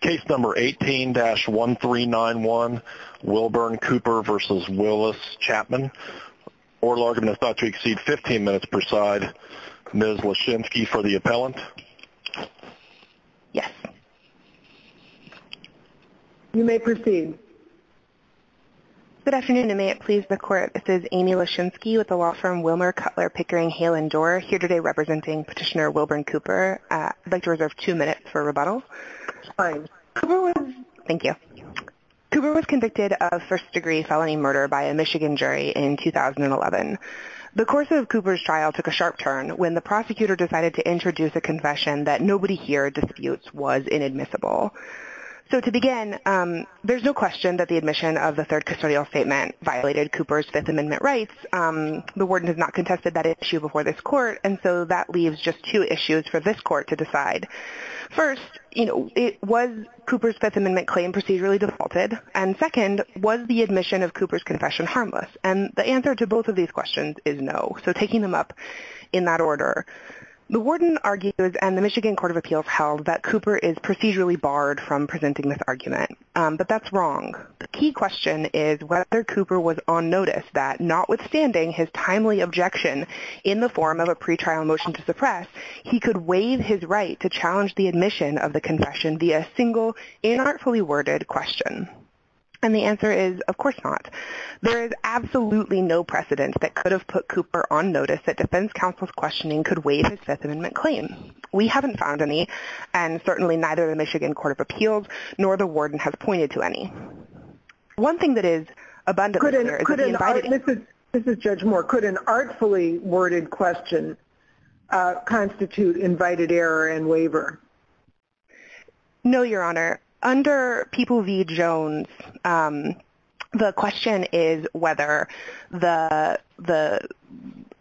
Case number 18-1391, Wilbern Cooper v. Willis Chapman. Oral argument is not to exceed 15 minutes per side. Ms. Leschinsky for the appellant. Yes. You may proceed. Good afternoon and may it please the Court. This is Amy Leschinsky with the law firm Wilmer Cutler Pickering Hale & Dorr, here today representing Petitioner Wilbern Cooper. I'd like to reserve two minutes for rebuttal. Fine. Cooper was... Thank you. Cooper was convicted of first-degree felony murder by a Michigan jury in 2011. The course of Cooper's trial took a sharp turn when the prosecutor decided to introduce a confession that nobody here disputes was inadmissible. So to begin, there's no question that the admission of the third custodial statement violated Cooper's Fifth Amendment rights. The warden has not contested that issue before this Court, and so that leaves just two issues for this Court to decide. First, you know, was Cooper's Fifth Amendment claim procedurally defaulted? And second, was the admission of Cooper's confession harmless? And the answer to both of these questions is no. So taking them up in that order, the warden argues, and the Michigan Court of Appeals held, that Cooper is procedurally barred from presenting this argument. But that's wrong. The key question is whether Cooper was on notice that, notwithstanding his timely objection in the form of a pretrial motion to suppress, he could waive his right to challenge the admission of the confession via a single, inartfully worded question. And the answer is, of course not. There is absolutely no precedent that could have put Cooper on notice that defense counsel's questioning could waive his Fifth Amendment claim. We haven't found any, and certainly neither the Michigan Court of Appeals nor the warden has pointed to any. One thing that is abundantly clear is that the invited – Could an – this is Judge Moore – could an artfully worded question constitute invited error and waiver? No, Your Honor. Under People v. Jones, the question is whether the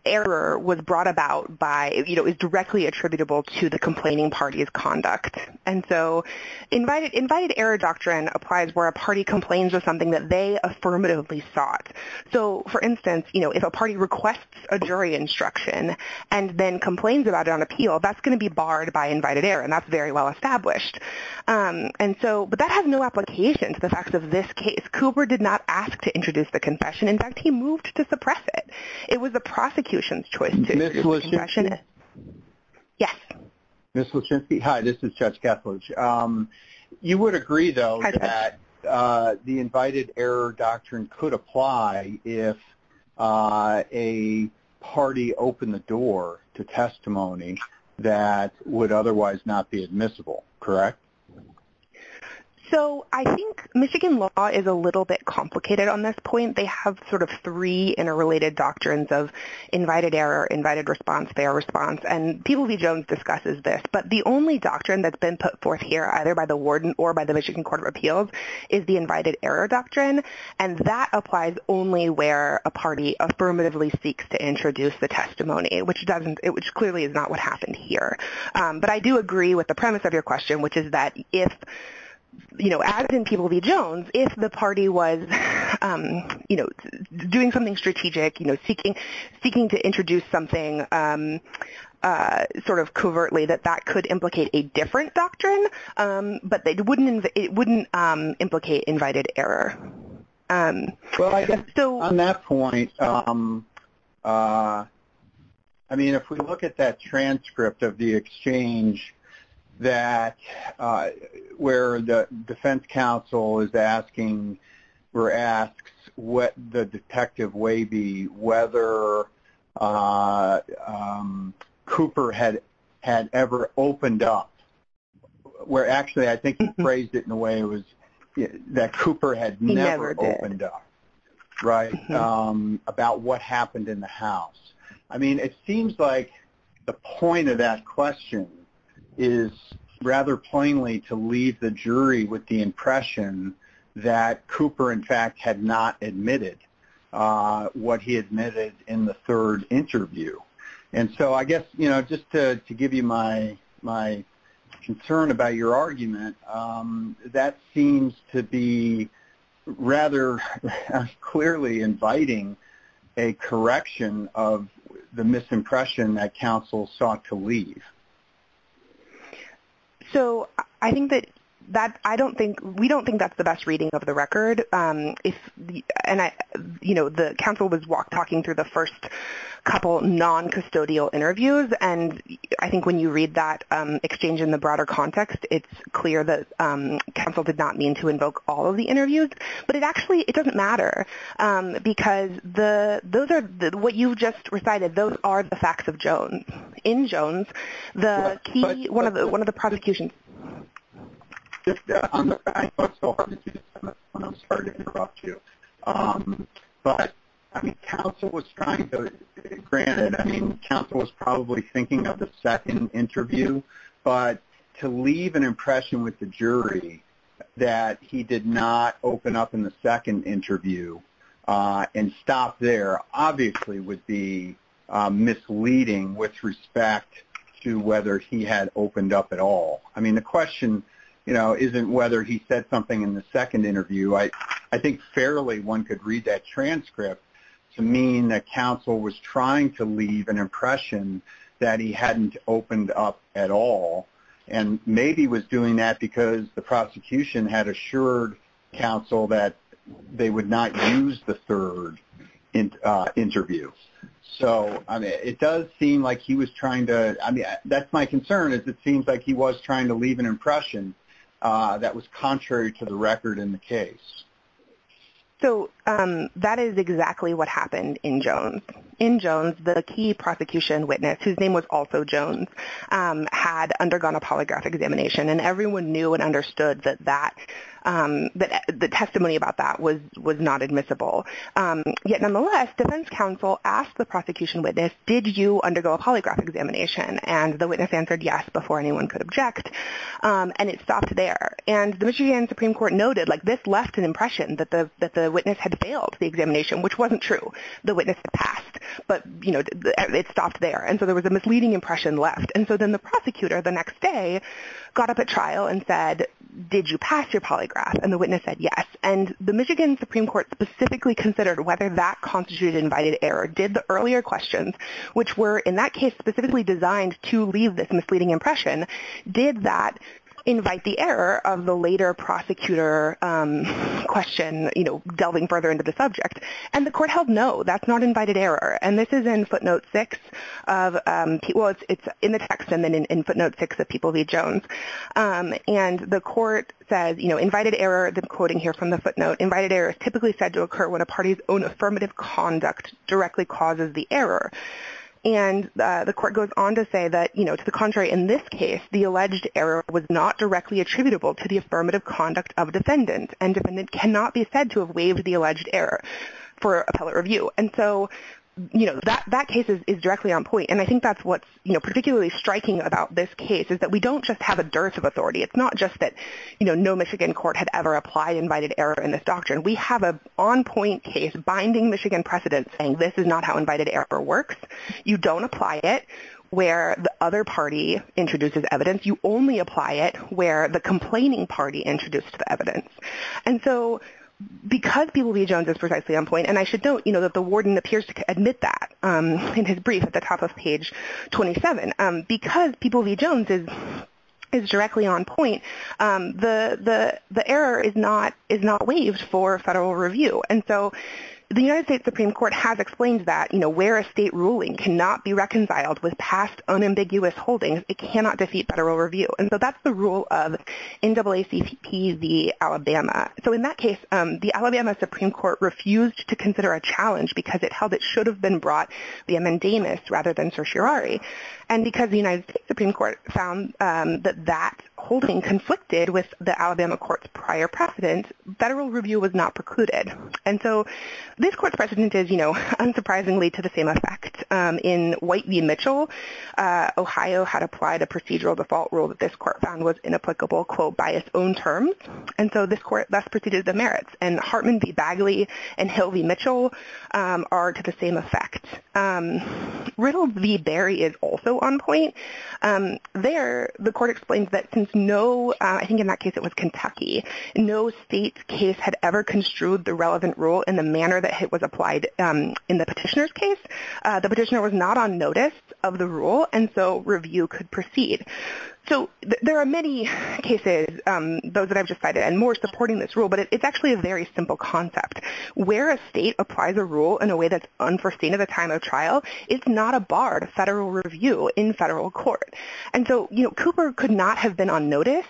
error was brought about by, you know, is directly attributable to the complaining party's conduct. And so invited error doctrine applies where a party complains of something that they affirmatively sought. So, for instance, you know, if a party requests a jury instruction and then complains about it on appeal, that's going to be barred by invited error, and that's very well established. And so – but that has no application to the facts of this case. Cooper did not ask to introduce the confession. In fact, he moved to suppress it. It was the prosecution's choice to. Ms. Lachinsky? Yes. Ms. Lachinsky? Hi, this is Judge Kethledge. You would agree, though, that the invited error doctrine could apply if a party opened the door to testimony that would otherwise not be admissible, correct? So I think Michigan law is a little bit complicated on this point. They have sort of three interrelated doctrines of invited error, invited response, fair response. And People v. Jones discusses this. But the only doctrine that's been put forth here, either by the warden or by the Michigan Court of Appeals, is the invited error doctrine. And that applies only where a party affirmatively seeks to introduce the testimony, which clearly is not what happened here. But I do agree with the premise of your question, which is that if, you know, as in People v. Jones, if the party was, you know, doing something strategic, you know, seeking to introduce something sort of covertly, that that could implicate a different doctrine, but it wouldn't implicate invited error. Well, I guess still on that point, I mean, if we look at that transcript of the exchange that, where the defense counsel is asking or asks what the detective may be, whether Cooper had ever opened up, where actually I think he phrased it in a way that Cooper had never opened up, right, about what happened in the house. I mean, it seems like the point of that question is rather plainly to leave the jury with the impression that Cooper, in fact, had not admitted what he admitted in the third interview. And so I guess, you know, just to give you my concern about your argument, that seems to be rather clearly inviting a correction of the misimpression that counsel sought to leave. So I think that I don't think, we don't think that's the best reading of the record. And, you know, the counsel was talking through the first couple non-custodial interviews, and I think when you read that exchange in the broader context, it's clear that counsel did not mean to invoke all of the interviews. But it actually, it doesn't matter, because those are, what you just recited, those are the facts of Jones. In Jones, the key, one of the prosecutions. But, I mean, counsel was trying to, granted, I mean, counsel was probably thinking of the second interview, but to leave an impression with the jury that he did not open up in the second interview and stop there, obviously would be misleading with respect to whether he had opened up at all. I mean, the question, you know, isn't whether he said something in the second interview. I think fairly one could read that transcript to mean that counsel was trying to leave an impression that he hadn't opened up at all, and maybe was doing that because the prosecution had assured counsel that they would not use the third interview. So, I mean, it does seem like he was trying to, I mean, that's my concern, is it seems like he was trying to leave an impression that was contrary to the record in the case. So, that is exactly what happened in Jones. In Jones, the key prosecution witness, whose name was also Jones, had undergone a polygraph examination, and everyone knew and understood that the testimony about that was not admissible. Yet, nonetheless, defense counsel asked the prosecution witness, did you undergo a polygraph examination? And the witness answered yes before anyone could object, and it stopped there. And the Michigan Supreme Court noted, like, this left an impression that the witness had failed the examination, which wasn't true. The witness had passed, but, you know, it stopped there. And so there was a misleading impression left. And so then the prosecutor the next day got up at trial and said, did you pass your polygraph? And the witness said yes. And the Michigan Supreme Court specifically considered whether that constituted an invited error. Did the earlier questions, which were in that case specifically designed to leave this misleading impression, did that invite the error of the later prosecutor question, you know, delving further into the subject? And the court held no. That's not invited error. And this is in footnote 6 of people's ‑‑ it's in the text and then in footnote 6 of people v. Jones. And the court says, you know, invited error, the quoting here from the footnote, invited error is typically said to occur when a party's own affirmative conduct directly causes the error. And the court goes on to say that, you know, to the contrary, in this case, the alleged error was not directly attributable to the affirmative conduct of a defendant, and the defendant cannot be said to have waived the alleged error for appellate review. And so, you know, that case is directly on point. And I think that's what's, you know, particularly striking about this case is that we don't just have a dearth of authority. It's not just that, you know, no Michigan court had ever applied invited error in this doctrine. We have an on point case binding Michigan precedents saying this is not how invited error works. You don't apply it where the other party introduces evidence. You only apply it where the complaining party introduced the evidence. And so because People v. Jones is precisely on point, and I should note, you know, that the warden appears to admit that in his brief at the top of page 27. Because People v. Jones is directly on point, the error is not waived for federal review. And so the United States Supreme Court has explained that, you know, where a state ruling cannot be reconciled with past unambiguous holdings, it cannot defeat federal review. And so that's the rule of NAACP v. Alabama. So in that case, the Alabama Supreme Court refused to consider a challenge because it held it should have been brought via Mendamus rather than certiorari. And because the United States Supreme Court found that that holding conflicted with the Alabama court's prior precedent, federal review was not precluded. And so this court's precedent is, you know, unsurprisingly to the same effect. In White v. Mitchell, Ohio had applied a procedural default rule that this court found was inapplicable, quote, by its own terms. And so this court thus preceded the merits. And Hartman v. Bagley and Hill v. Mitchell are to the same effect. Riddle v. Berry is also on point. There the court explains that since no, I think in that case it was Kentucky, no state's case had ever construed the relevant rule in the manner that it was applied in the petitioner's case. The petitioner was not on notice of the rule, and so review could proceed. So there are many cases, those that I've just cited, and more supporting this rule, but it's actually a very simple concept. Where a state applies a rule in a way that's unforeseen at the time of trial, it's not a bar to federal review in federal court. And so, you know, Cooper could not have been on notice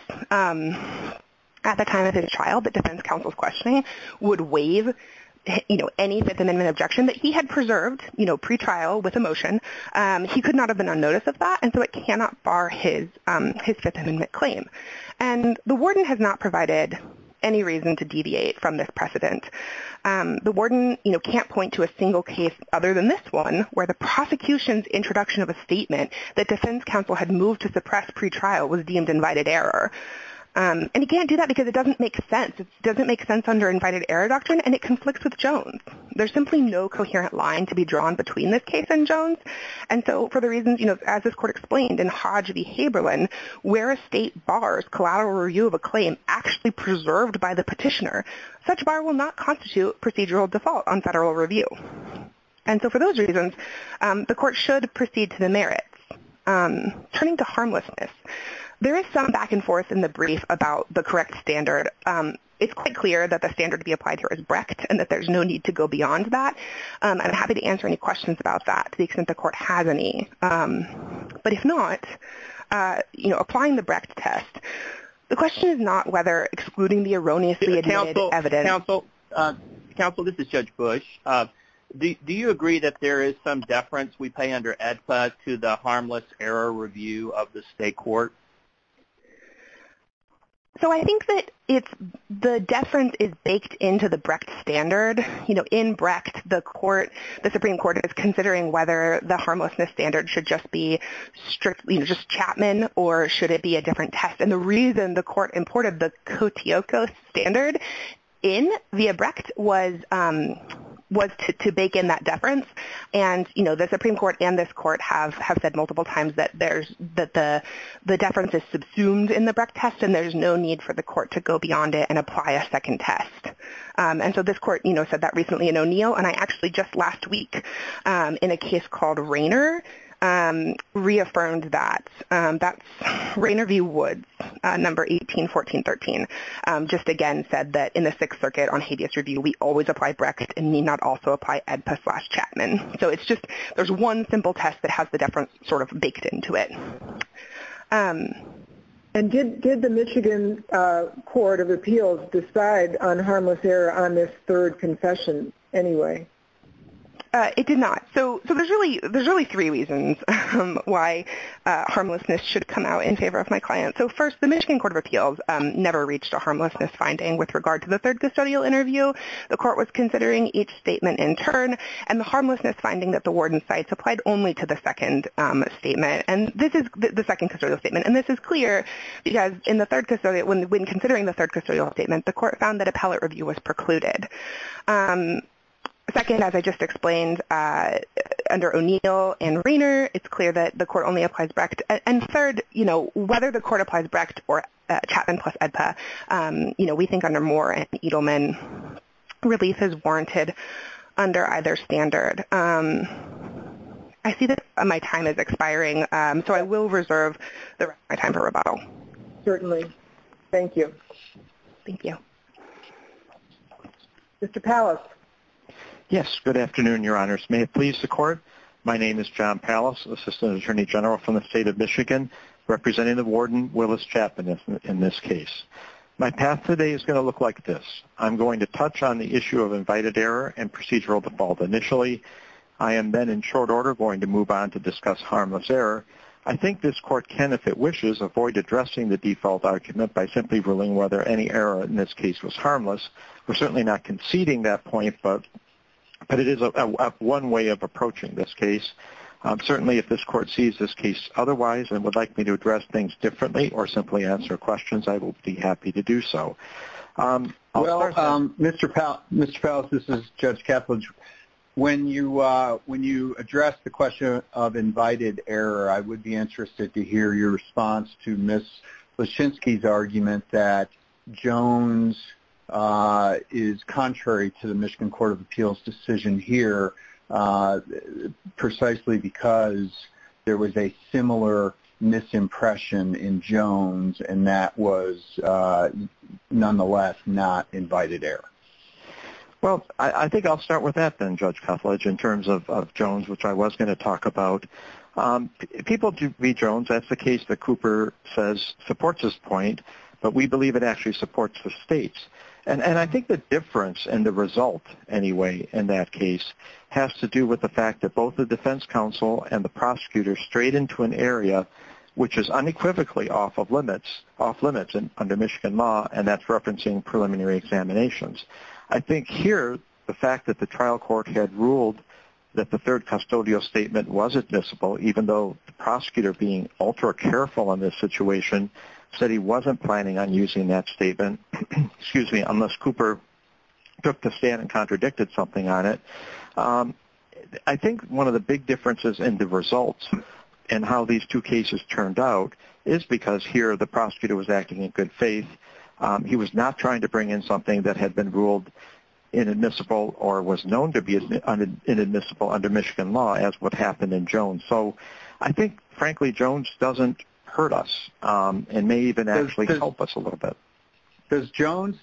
at the time of his trial, but defense counsel's questioning would waive, you know, any Fifth Amendment objection that he had preserved, you know, pre-trial with a motion. He could not have been on notice of that, and so it cannot bar his Fifth Amendment claim. And the warden has not provided any reason to deviate from this precedent. The warden, you know, can't point to a single case other than this one, where the prosecution's introduction of a statement that defense counsel had moved to suppress pre-trial was deemed invited error. And he can't do that because it doesn't make sense. It doesn't make sense under invited error doctrine, and it conflicts with Jones. There's simply no coherent line to be drawn between this case and Jones. And so for the reasons, you know, as this court explained in Hodge v. Haberlin, where a state bars collateral review of a claim actually preserved by the petitioner, such a bar will not constitute procedural default on federal review. And so for those reasons, the court should proceed to the merits. Turning to harmlessness. There is some back and forth in the brief about the correct standard. It's quite clear that the standard to be applied here is Brecht and that there's no need to go beyond that. I'm happy to answer any questions about that to the extent the court has any. But if not, you know, applying the Brecht test, the question is not whether excluding the erroneously admitted evidence. Counsel, this is Judge Bush. Do you agree that there is some deference we pay under AEDPA to the harmless error review of the state court? So I think that the deference is baked into the Brecht standard. You know, in Brecht, the Supreme Court is considering whether the harmlessness standard should just be strictly just Chapman or should it be a different test. And the reason the court imported the Kotioko standard in via Brecht was to bake in that deference. And, you know, the Supreme Court and this court have said multiple times that the deference is subsumed in the Brecht test and there's no need for the court to go beyond it and apply a second test. And so this court, you know, said that recently in O'Neill. And I actually just last week in a case called Rayner reaffirmed that. That's Rayner v. Woods, number 18-14-13, just again said that in the Sixth Circuit on habeas review, we always apply Brecht and need not also apply AEDPA slash Chapman. So it's just there's one simple test that has the deference sort of baked into it. And did the Michigan Court of Appeals decide on harmless error on this third confession anyway? It did not. So there's really three reasons why harmlessness should come out in favor of my client. So first, the Michigan Court of Appeals never reached a harmlessness finding with regard to the third custodial interview. The court was considering each statement in turn and the harmlessness finding that the warden's sites applied only to the second statement. And this is the second custodial statement. And this is clear because in the third custodial, when considering the third custodial statement, the court found that appellate review was precluded. Second, as I just explained, under O'Neill and Rayner, it's clear that the court only applies Brecht. And third, you know, whether the court applies Brecht or Chapman plus AEDPA, you know, we think under Moore and Edelman, release is warranted under either standard. I see that my time is expiring, so I will reserve my time for rebuttal. Certainly. Thank you. Thank you. Mr. Pallas. Yes, good afternoon, Your Honors. May it please the Court, my name is John Pallas, Assistant Attorney General from the State of Michigan, Representative Warden Willis Chapman in this case. My path today is going to look like this. I'm going to touch on the issue of invited error and procedural default initially. I am then in short order going to move on to discuss harmless error. I think this court can, if it wishes, avoid addressing the default argument by simply ruling whether any error in this case was harmless. We're certainly not conceding that point, but it is one way of approaching this case. Certainly, if this court sees this case otherwise and would like me to address things differently or simply answer questions, I will be happy to do so. Well, Mr. Pallas, this is Judge Kaplan. When you address the question of invited error, I would be interested to hear your response to Ms. Lachinsky's argument that Jones is contrary to the Michigan Court of Appeals decision here, precisely because there was a similar misimpression in Jones and that was, nonetheless, not invited error. Well, I think I'll start with that then, Judge Kuflage, in terms of Jones, which I was going to talk about. People do read Jones. That's the case that Cooper says supports his point, but we believe it actually supports the state's. And I think the difference and the result, anyway, in that case has to do with the fact that both the defense counsel and the prosecutor strayed into an area which is unequivocally off limits under Michigan law, and that's referencing preliminary examinations. I think here the fact that the trial court had ruled that the third custodial statement was admissible, even though the prosecutor, being ultra-careful in this situation, said he wasn't planning on using that statement, unless Cooper took the stand and contradicted something on it. I think one of the big differences in the results and how these two cases turned out is because here the prosecutor was acting in good faith. He was not trying to bring in something that had been ruled inadmissible or was known to be inadmissible under Michigan law, as what happened in Jones. And so I think, frankly, Jones doesn't hurt us and may even actually help us a little bit. Does Jones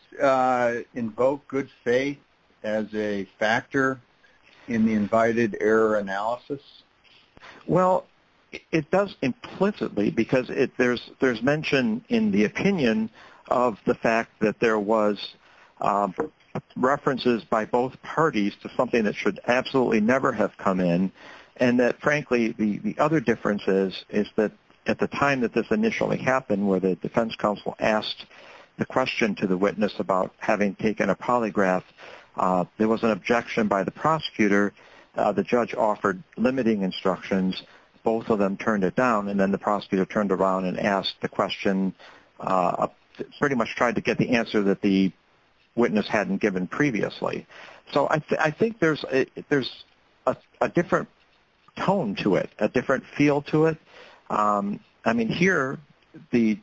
invoke good faith as a factor in the invited error analysis? Well, it does implicitly because there's mention in the opinion of the fact that there was references by both parties to something that should absolutely never have come in and that, frankly, the other difference is that at the time that this initially happened, where the defense counsel asked the question to the witness about having taken a polygraph, there was an objection by the prosecutor. The judge offered limiting instructions. Both of them turned it down, and then the prosecutor turned around and asked the question, pretty much tried to get the answer that the witness hadn't given previously. So I think there's a different tone to it, a different feel to it. I mean, here, the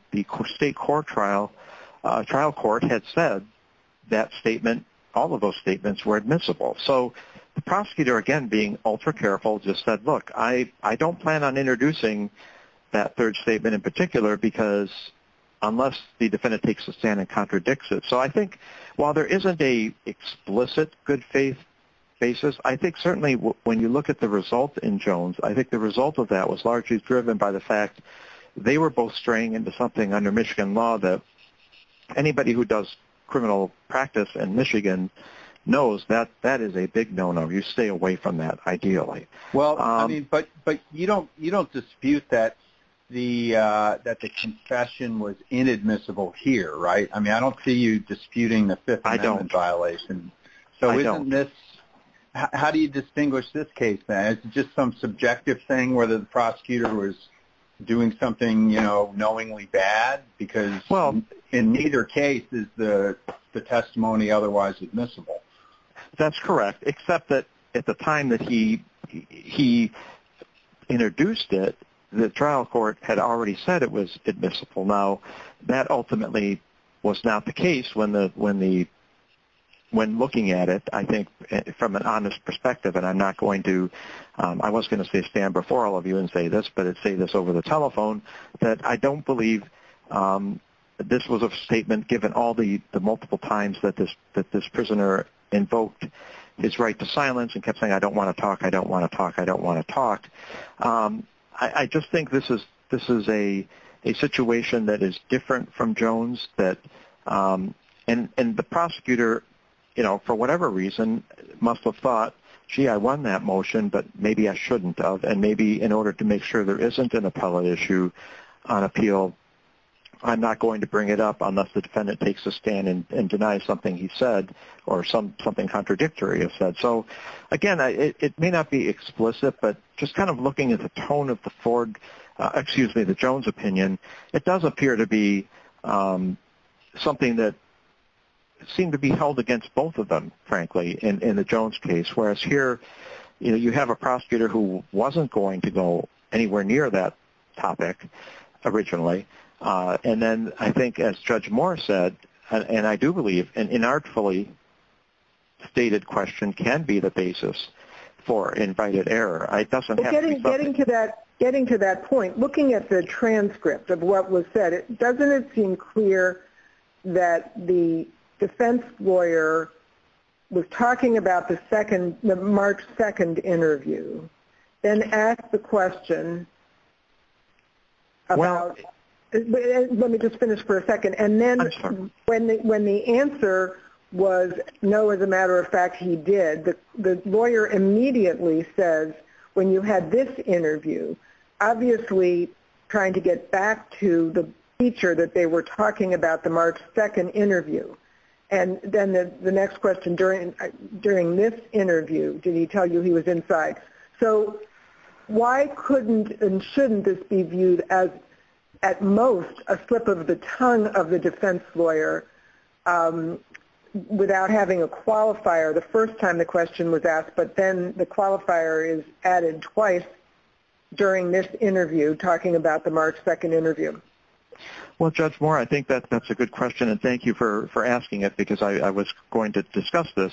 state trial court had said that statement, all of those statements were admissible. So the prosecutor, again, being ultra careful, just said, look, I don't plan on introducing that third statement in particular unless the defendant takes a stand and contradicts it. So I think while there isn't an explicit good faith basis, I think certainly when you look at the result in Jones, I think the result of that was largely driven by the fact they were both straying into something under Michigan law that anybody who does criminal practice in Michigan knows that that is a big no-no. You stay away from that, ideally. Well, I mean, but you don't dispute that the confession was inadmissible here, right? I mean, I don't see you disputing the Fifth Amendment violation. I don't. So isn't this – how do you distinguish this case, then? Is it just some subjective thing, whether the prosecutor was doing something, you know, knowingly bad? Because in neither case is the testimony otherwise admissible. That's correct, except that at the time that he introduced it, the trial court had already said it was admissible. Now, that ultimately was not the case when looking at it. I think from an honest perspective, and I'm not going to – I was going to say stand before all of you and say this, but I'd say this over the telephone, that I don't believe this was a statement, given all the multiple times that this prisoner invoked his right to silence and kept saying, I don't want to talk, I don't want to talk, I don't want to talk. I just think this is a situation that is different from Jones, and the prosecutor, you know, for whatever reason, must have thought, gee, I won that motion, but maybe I shouldn't have, and maybe in order to make sure there isn't an appellate issue on appeal, I'm not going to bring it up unless the defendant takes a stand and denies something he said or something contradictory is said. So, again, it may not be explicit, but just kind of looking at the tone of the Jones opinion, it does appear to be something that seemed to be held against both of them, frankly, in the Jones case, whereas here, you know, you have a prosecutor who wasn't going to go anywhere near that topic originally, and then I think, as Judge Moore said, and I do believe an inartfully stated question can be the basis for invited error. It doesn't have to be both. Getting to that point, looking at the transcript of what was said, doesn't it seem clear that the defense lawyer was talking about the March 2 interview and asked the question about, let me just finish for a second, and then when the answer was, no, as a matter of fact, he did, the lawyer immediately says, when you had this interview, obviously trying to get back to the feature that they were talking about, the March 2 interview, and then the next question, during this interview, did he tell you he was inside? Yes. So why couldn't and shouldn't this be viewed as, at most, a slip of the tongue of the defense lawyer without having a qualifier the first time the question was asked, but then the qualifier is added twice during this interview, talking about the March 2 interview? Well, Judge Moore, I think that's a good question, and thank you for asking it because I was going to discuss this.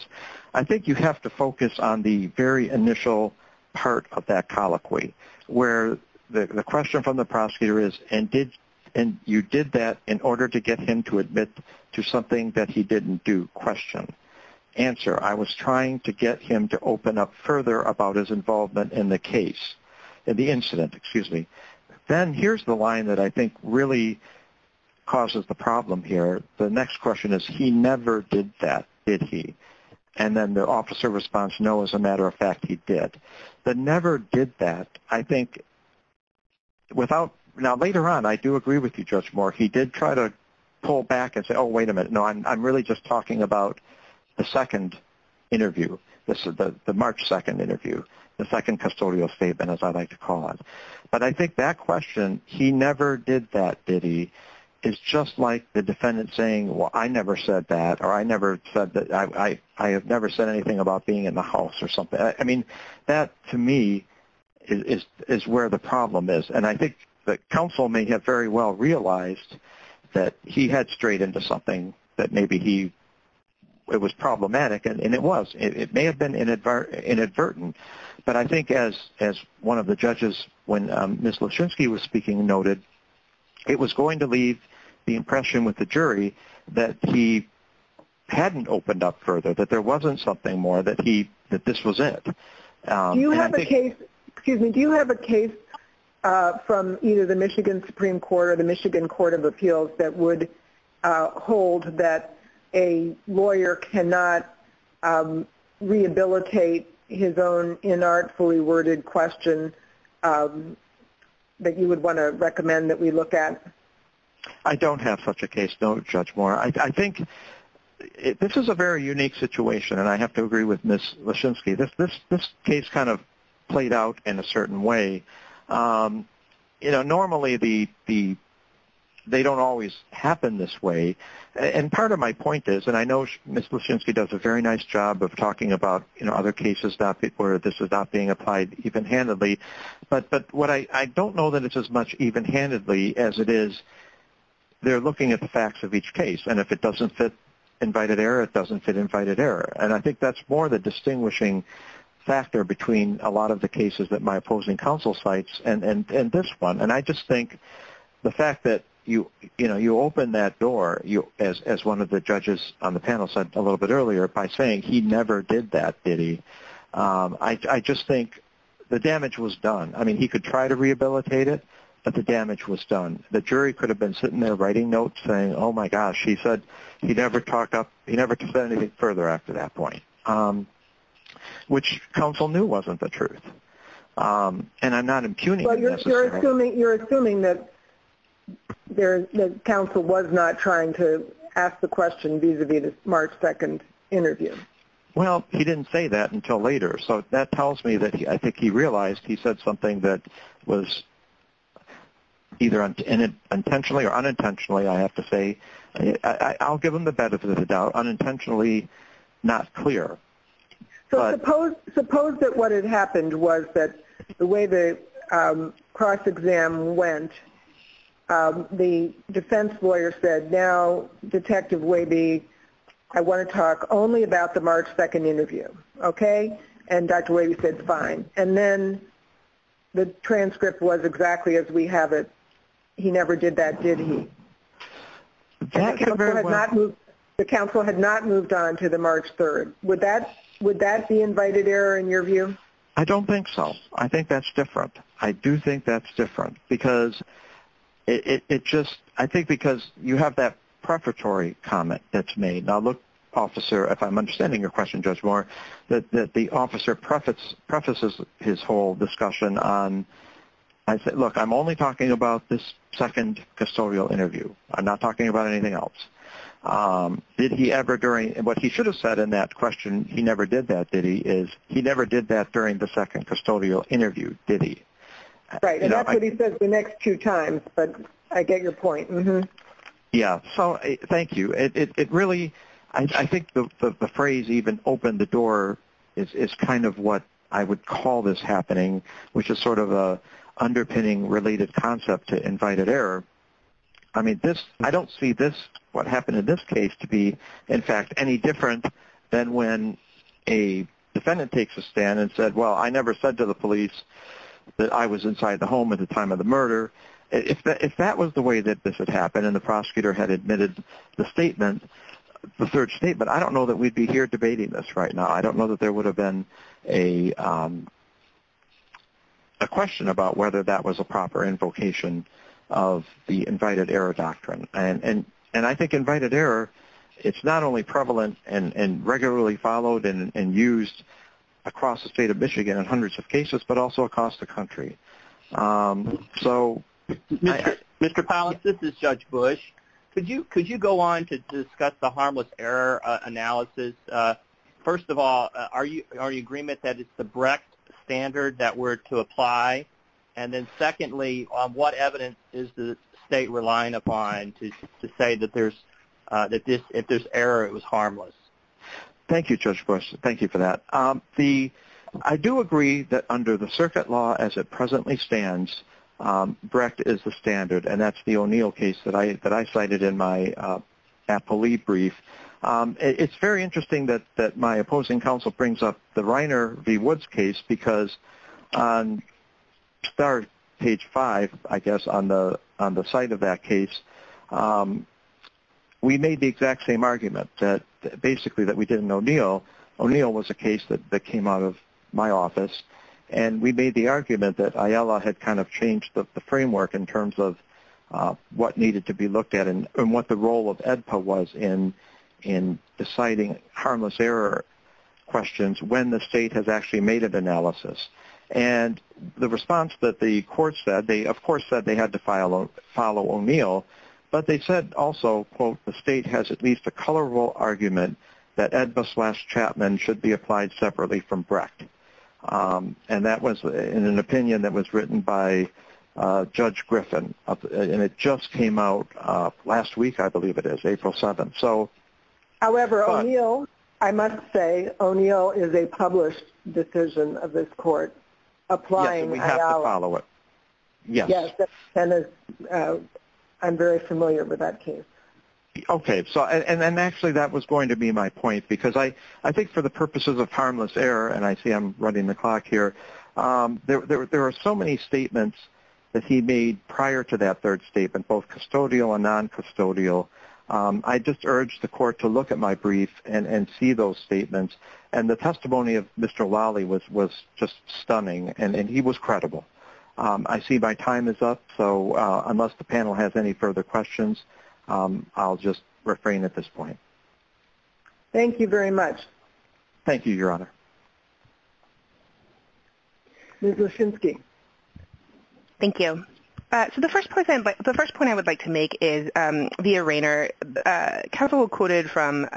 I think you have to focus on the very initial part of that colloquy, where the question from the prosecutor is, and you did that in order to get him to admit to something that he didn't do, question, answer. I was trying to get him to open up further about his involvement in the case, in the incident, excuse me. Then here's the line that I think really causes the problem here. The next question is, he never did that, did he? And then the officer responds, no, as a matter of fact, he did. The never did that, I think, without, now later on, I do agree with you, Judge Moore, he did try to pull back and say, oh, wait a minute, no, I'm really just talking about the second interview. This is the March 2 interview, the second custodial statement, as I like to call it. But I think that question, he never did that, did he, is just like the defendant saying, well, I never said that or I have never said anything about being in the house or something. I mean, that to me is where the problem is. And I think the counsel may have very well realized that he had strayed into something that maybe he, it was problematic, and it was. It may have been inadvertent, but I think as one of the judges, when Ms. Lushinsky was speaking, noted it was going to leave the impression with the jury that he hadn't opened up further, that there wasn't something more, that this was it. Do you have a case, excuse me, do you have a case from either the Michigan Supreme Court or the Michigan Court of Appeals that would hold that a lawyer cannot rehabilitate his own inartfully worded question that you would want to recommend that we look at? I don't have such a case, don't judge me. I think this is a very unique situation, and I have to agree with Ms. Lushinsky. This case kind of played out in a certain way. You know, normally they don't always happen this way, and part of my point is, and I know Ms. Lushinsky does a very nice job of talking about, you know, other cases where this is not being applied even-handedly, but what I don't know that it's as much even-handedly as it is they're looking at the facts of each case, and if it doesn't fit invited error, it doesn't fit invited error. And I think that's more the distinguishing factor between a lot of the cases that my opposing counsel cites and this one, and I just think the fact that, you know, you open that door, as one of the judges on the panel said a little bit earlier, by saying he never did that, did he? I just think the damage was done. I mean, he could try to rehabilitate it, but the damage was done. The jury could have been sitting there writing notes saying, oh, my gosh, he said he never talked up, he never said anything further after that point, which counsel knew wasn't the truth, and I'm not impugning it necessarily. But you're assuming that counsel was not trying to ask the question vis-a-vis the March 2 interview. Well, he didn't say that until later, so that tells me that I think he realized he said something that was either intentionally or unintentionally, I have to say, I'll give him the benefit of the doubt, unintentionally not clear. So suppose that what had happened was that the way the cross-exam went, the defense lawyer said, now, Detective Wabe, I want to talk only about the March 2 interview, okay? And Detective Wabe said, fine. And then the transcript was exactly as we have it, he never did that, did he? The counsel had not moved on to the March 3. Would that be invited error in your view? I don't think so. I think that's different. I do think that's different because it just, I think because you have that preparatory comment that's made. Now, look, Officer, if I'm understanding your question, Judge Moore, that the officer prefaces his whole discussion on, look, I'm only talking about this second custodial interview. I'm not talking about anything else. Did he ever during, what he should have said in that question, he never did that, did he, is he never did that during the second custodial interview, did he? Right, and that's what he says the next two times, but I get your point. Yeah, so thank you. It really, I think the phrase even opened the door is kind of what I would call this happening, which is sort of an underpinning related concept to invited error. I mean, this, I don't see this, what happened in this case to be, in fact, any different than when a defendant takes a stand and said, well, I never said to the police that I was inside the home at the time of the murder. If that was the way that this had happened and the prosecutor had admitted the statement, the third statement, I don't know that we'd be here debating this right now. I don't know that there would have been a question about whether that was a proper invocation of the invited error doctrine, and I think invited error, it's not only prevalent and regularly followed and used across the state of Michigan in hundreds of cases, but also across the country. So. Mr. Pallas, this is Judge Bush. Could you go on to discuss the harmless error analysis? First of all, are you in agreement that it's the Brecht standard that we're to apply? And then secondly, what evidence is the state relying upon to say that there's, that if there's error, it was harmless? Thank you, Judge Bush. Thank you for that. I do agree that under the circuit law as it presently stands, Brecht is the standard, and that's the O'Neill case that I cited in my appellee brief. It's very interesting that my opposing counsel brings up the Reiner v. Woods case because on page five, I guess, on the site of that case, we made the exact same argument while O'Neill was a case that came out of my office, and we made the argument that IELA had kind of changed the framework in terms of what needed to be looked at and what the role of AEDPA was in deciding harmless error questions when the state has actually made an analysis. And the response that the court said, they, of course, said they had to follow O'Neill, but they said also, quote, the state has at least a colorable argument that AEDPA slash Chapman should be applied separately from Brecht. And that was in an opinion that was written by Judge Griffin, and it just came out last week, I believe it is, April 7th. However, O'Neill, I must say, O'Neill is a published decision of this court applying IELA. Yes, and we have to follow it. Yes, and I'm very familiar with that case. Okay, and actually that was going to be my point because I think for the purposes of harmless error, and I see I'm running the clock here, there are so many statements that he made prior to that third statement, both custodial and non-custodial. I just urge the court to look at my brief and see those statements, and the testimony of Mr. Wally was just stunning, and he was credible. I see my time is up, so unless the panel has any further questions, I'll just refrain at this point. Thank you very much. Thank you, Your Honor. Ms. Lashinsky. Thank you. So the first point I would like to make is via Rayner. Counsel quoted from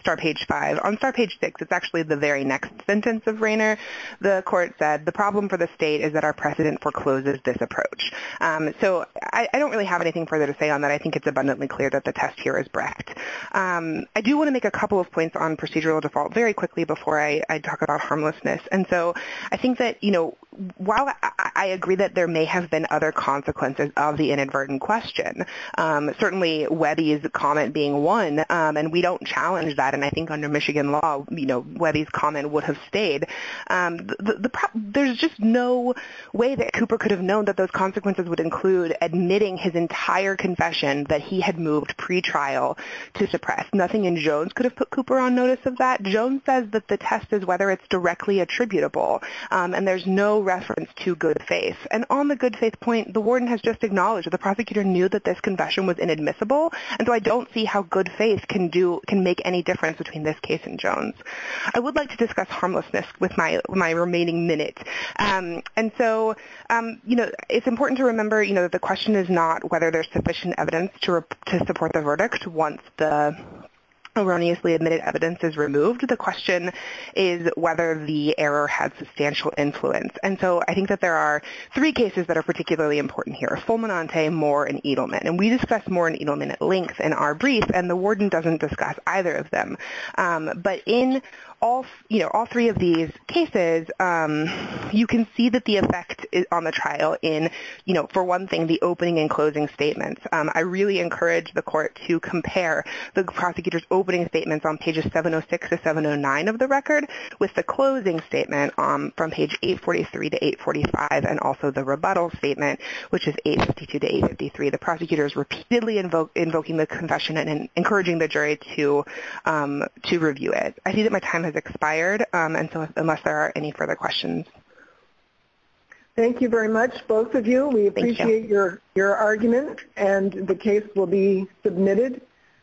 Star Page 5. On Star Page 6, it's actually the very next sentence of Rayner. The court said, the problem for the state is that our precedent forecloses this approach. So I don't really have anything further to say on that. I think it's abundantly clear that the test here is Brecht. I do want to make a couple of points on procedural default very quickly before I talk about harmlessness. And so I think that, you know, while I agree that there may have been other consequences of the inadvertent question, certainly Webby's comment being one, and we don't challenge that, and I think under Michigan law, you know, Webby's comment would have stayed. There's just no way that Cooper could have known that those consequences would include admitting his entire confession that he had moved pretrial to suppress. Nothing in Jones could have put Cooper on notice of that. Jones says that the test is whether it's directly attributable, and there's no reference to good faith. And on the good faith point, the warden has just acknowledged that the prosecutor knew that this confession was inadmissible, and so I don't see how good faith can make any difference between this case and Jones. I would like to discuss harmlessness with my remaining minutes. And so, you know, it's important to remember, you know, the question is not whether there's sufficient evidence to support the verdict once the erroneously admitted evidence is removed. The question is whether the error had substantial influence. And so I think that there are three cases that are particularly important here, Fulminante, Moore, and Edelman. And we discussed Moore and Edelman at length in our brief, and the warden doesn't discuss either of them. But in all three of these cases, you can see that the effect on the trial in, you know, for one thing, the opening and closing statements. I really encourage the court to compare the prosecutor's opening statements on pages 706 to 709 of the record with the closing statement from page 843 to 845, and also the rebuttal statement, which is 852 to 853. The prosecutor is repeatedly invoking the confession and encouraging the jury to review it. I see that my time has expired, and so unless there are any further questions. Thank you very much, both of you. We appreciate your argument, and the case will be submitted.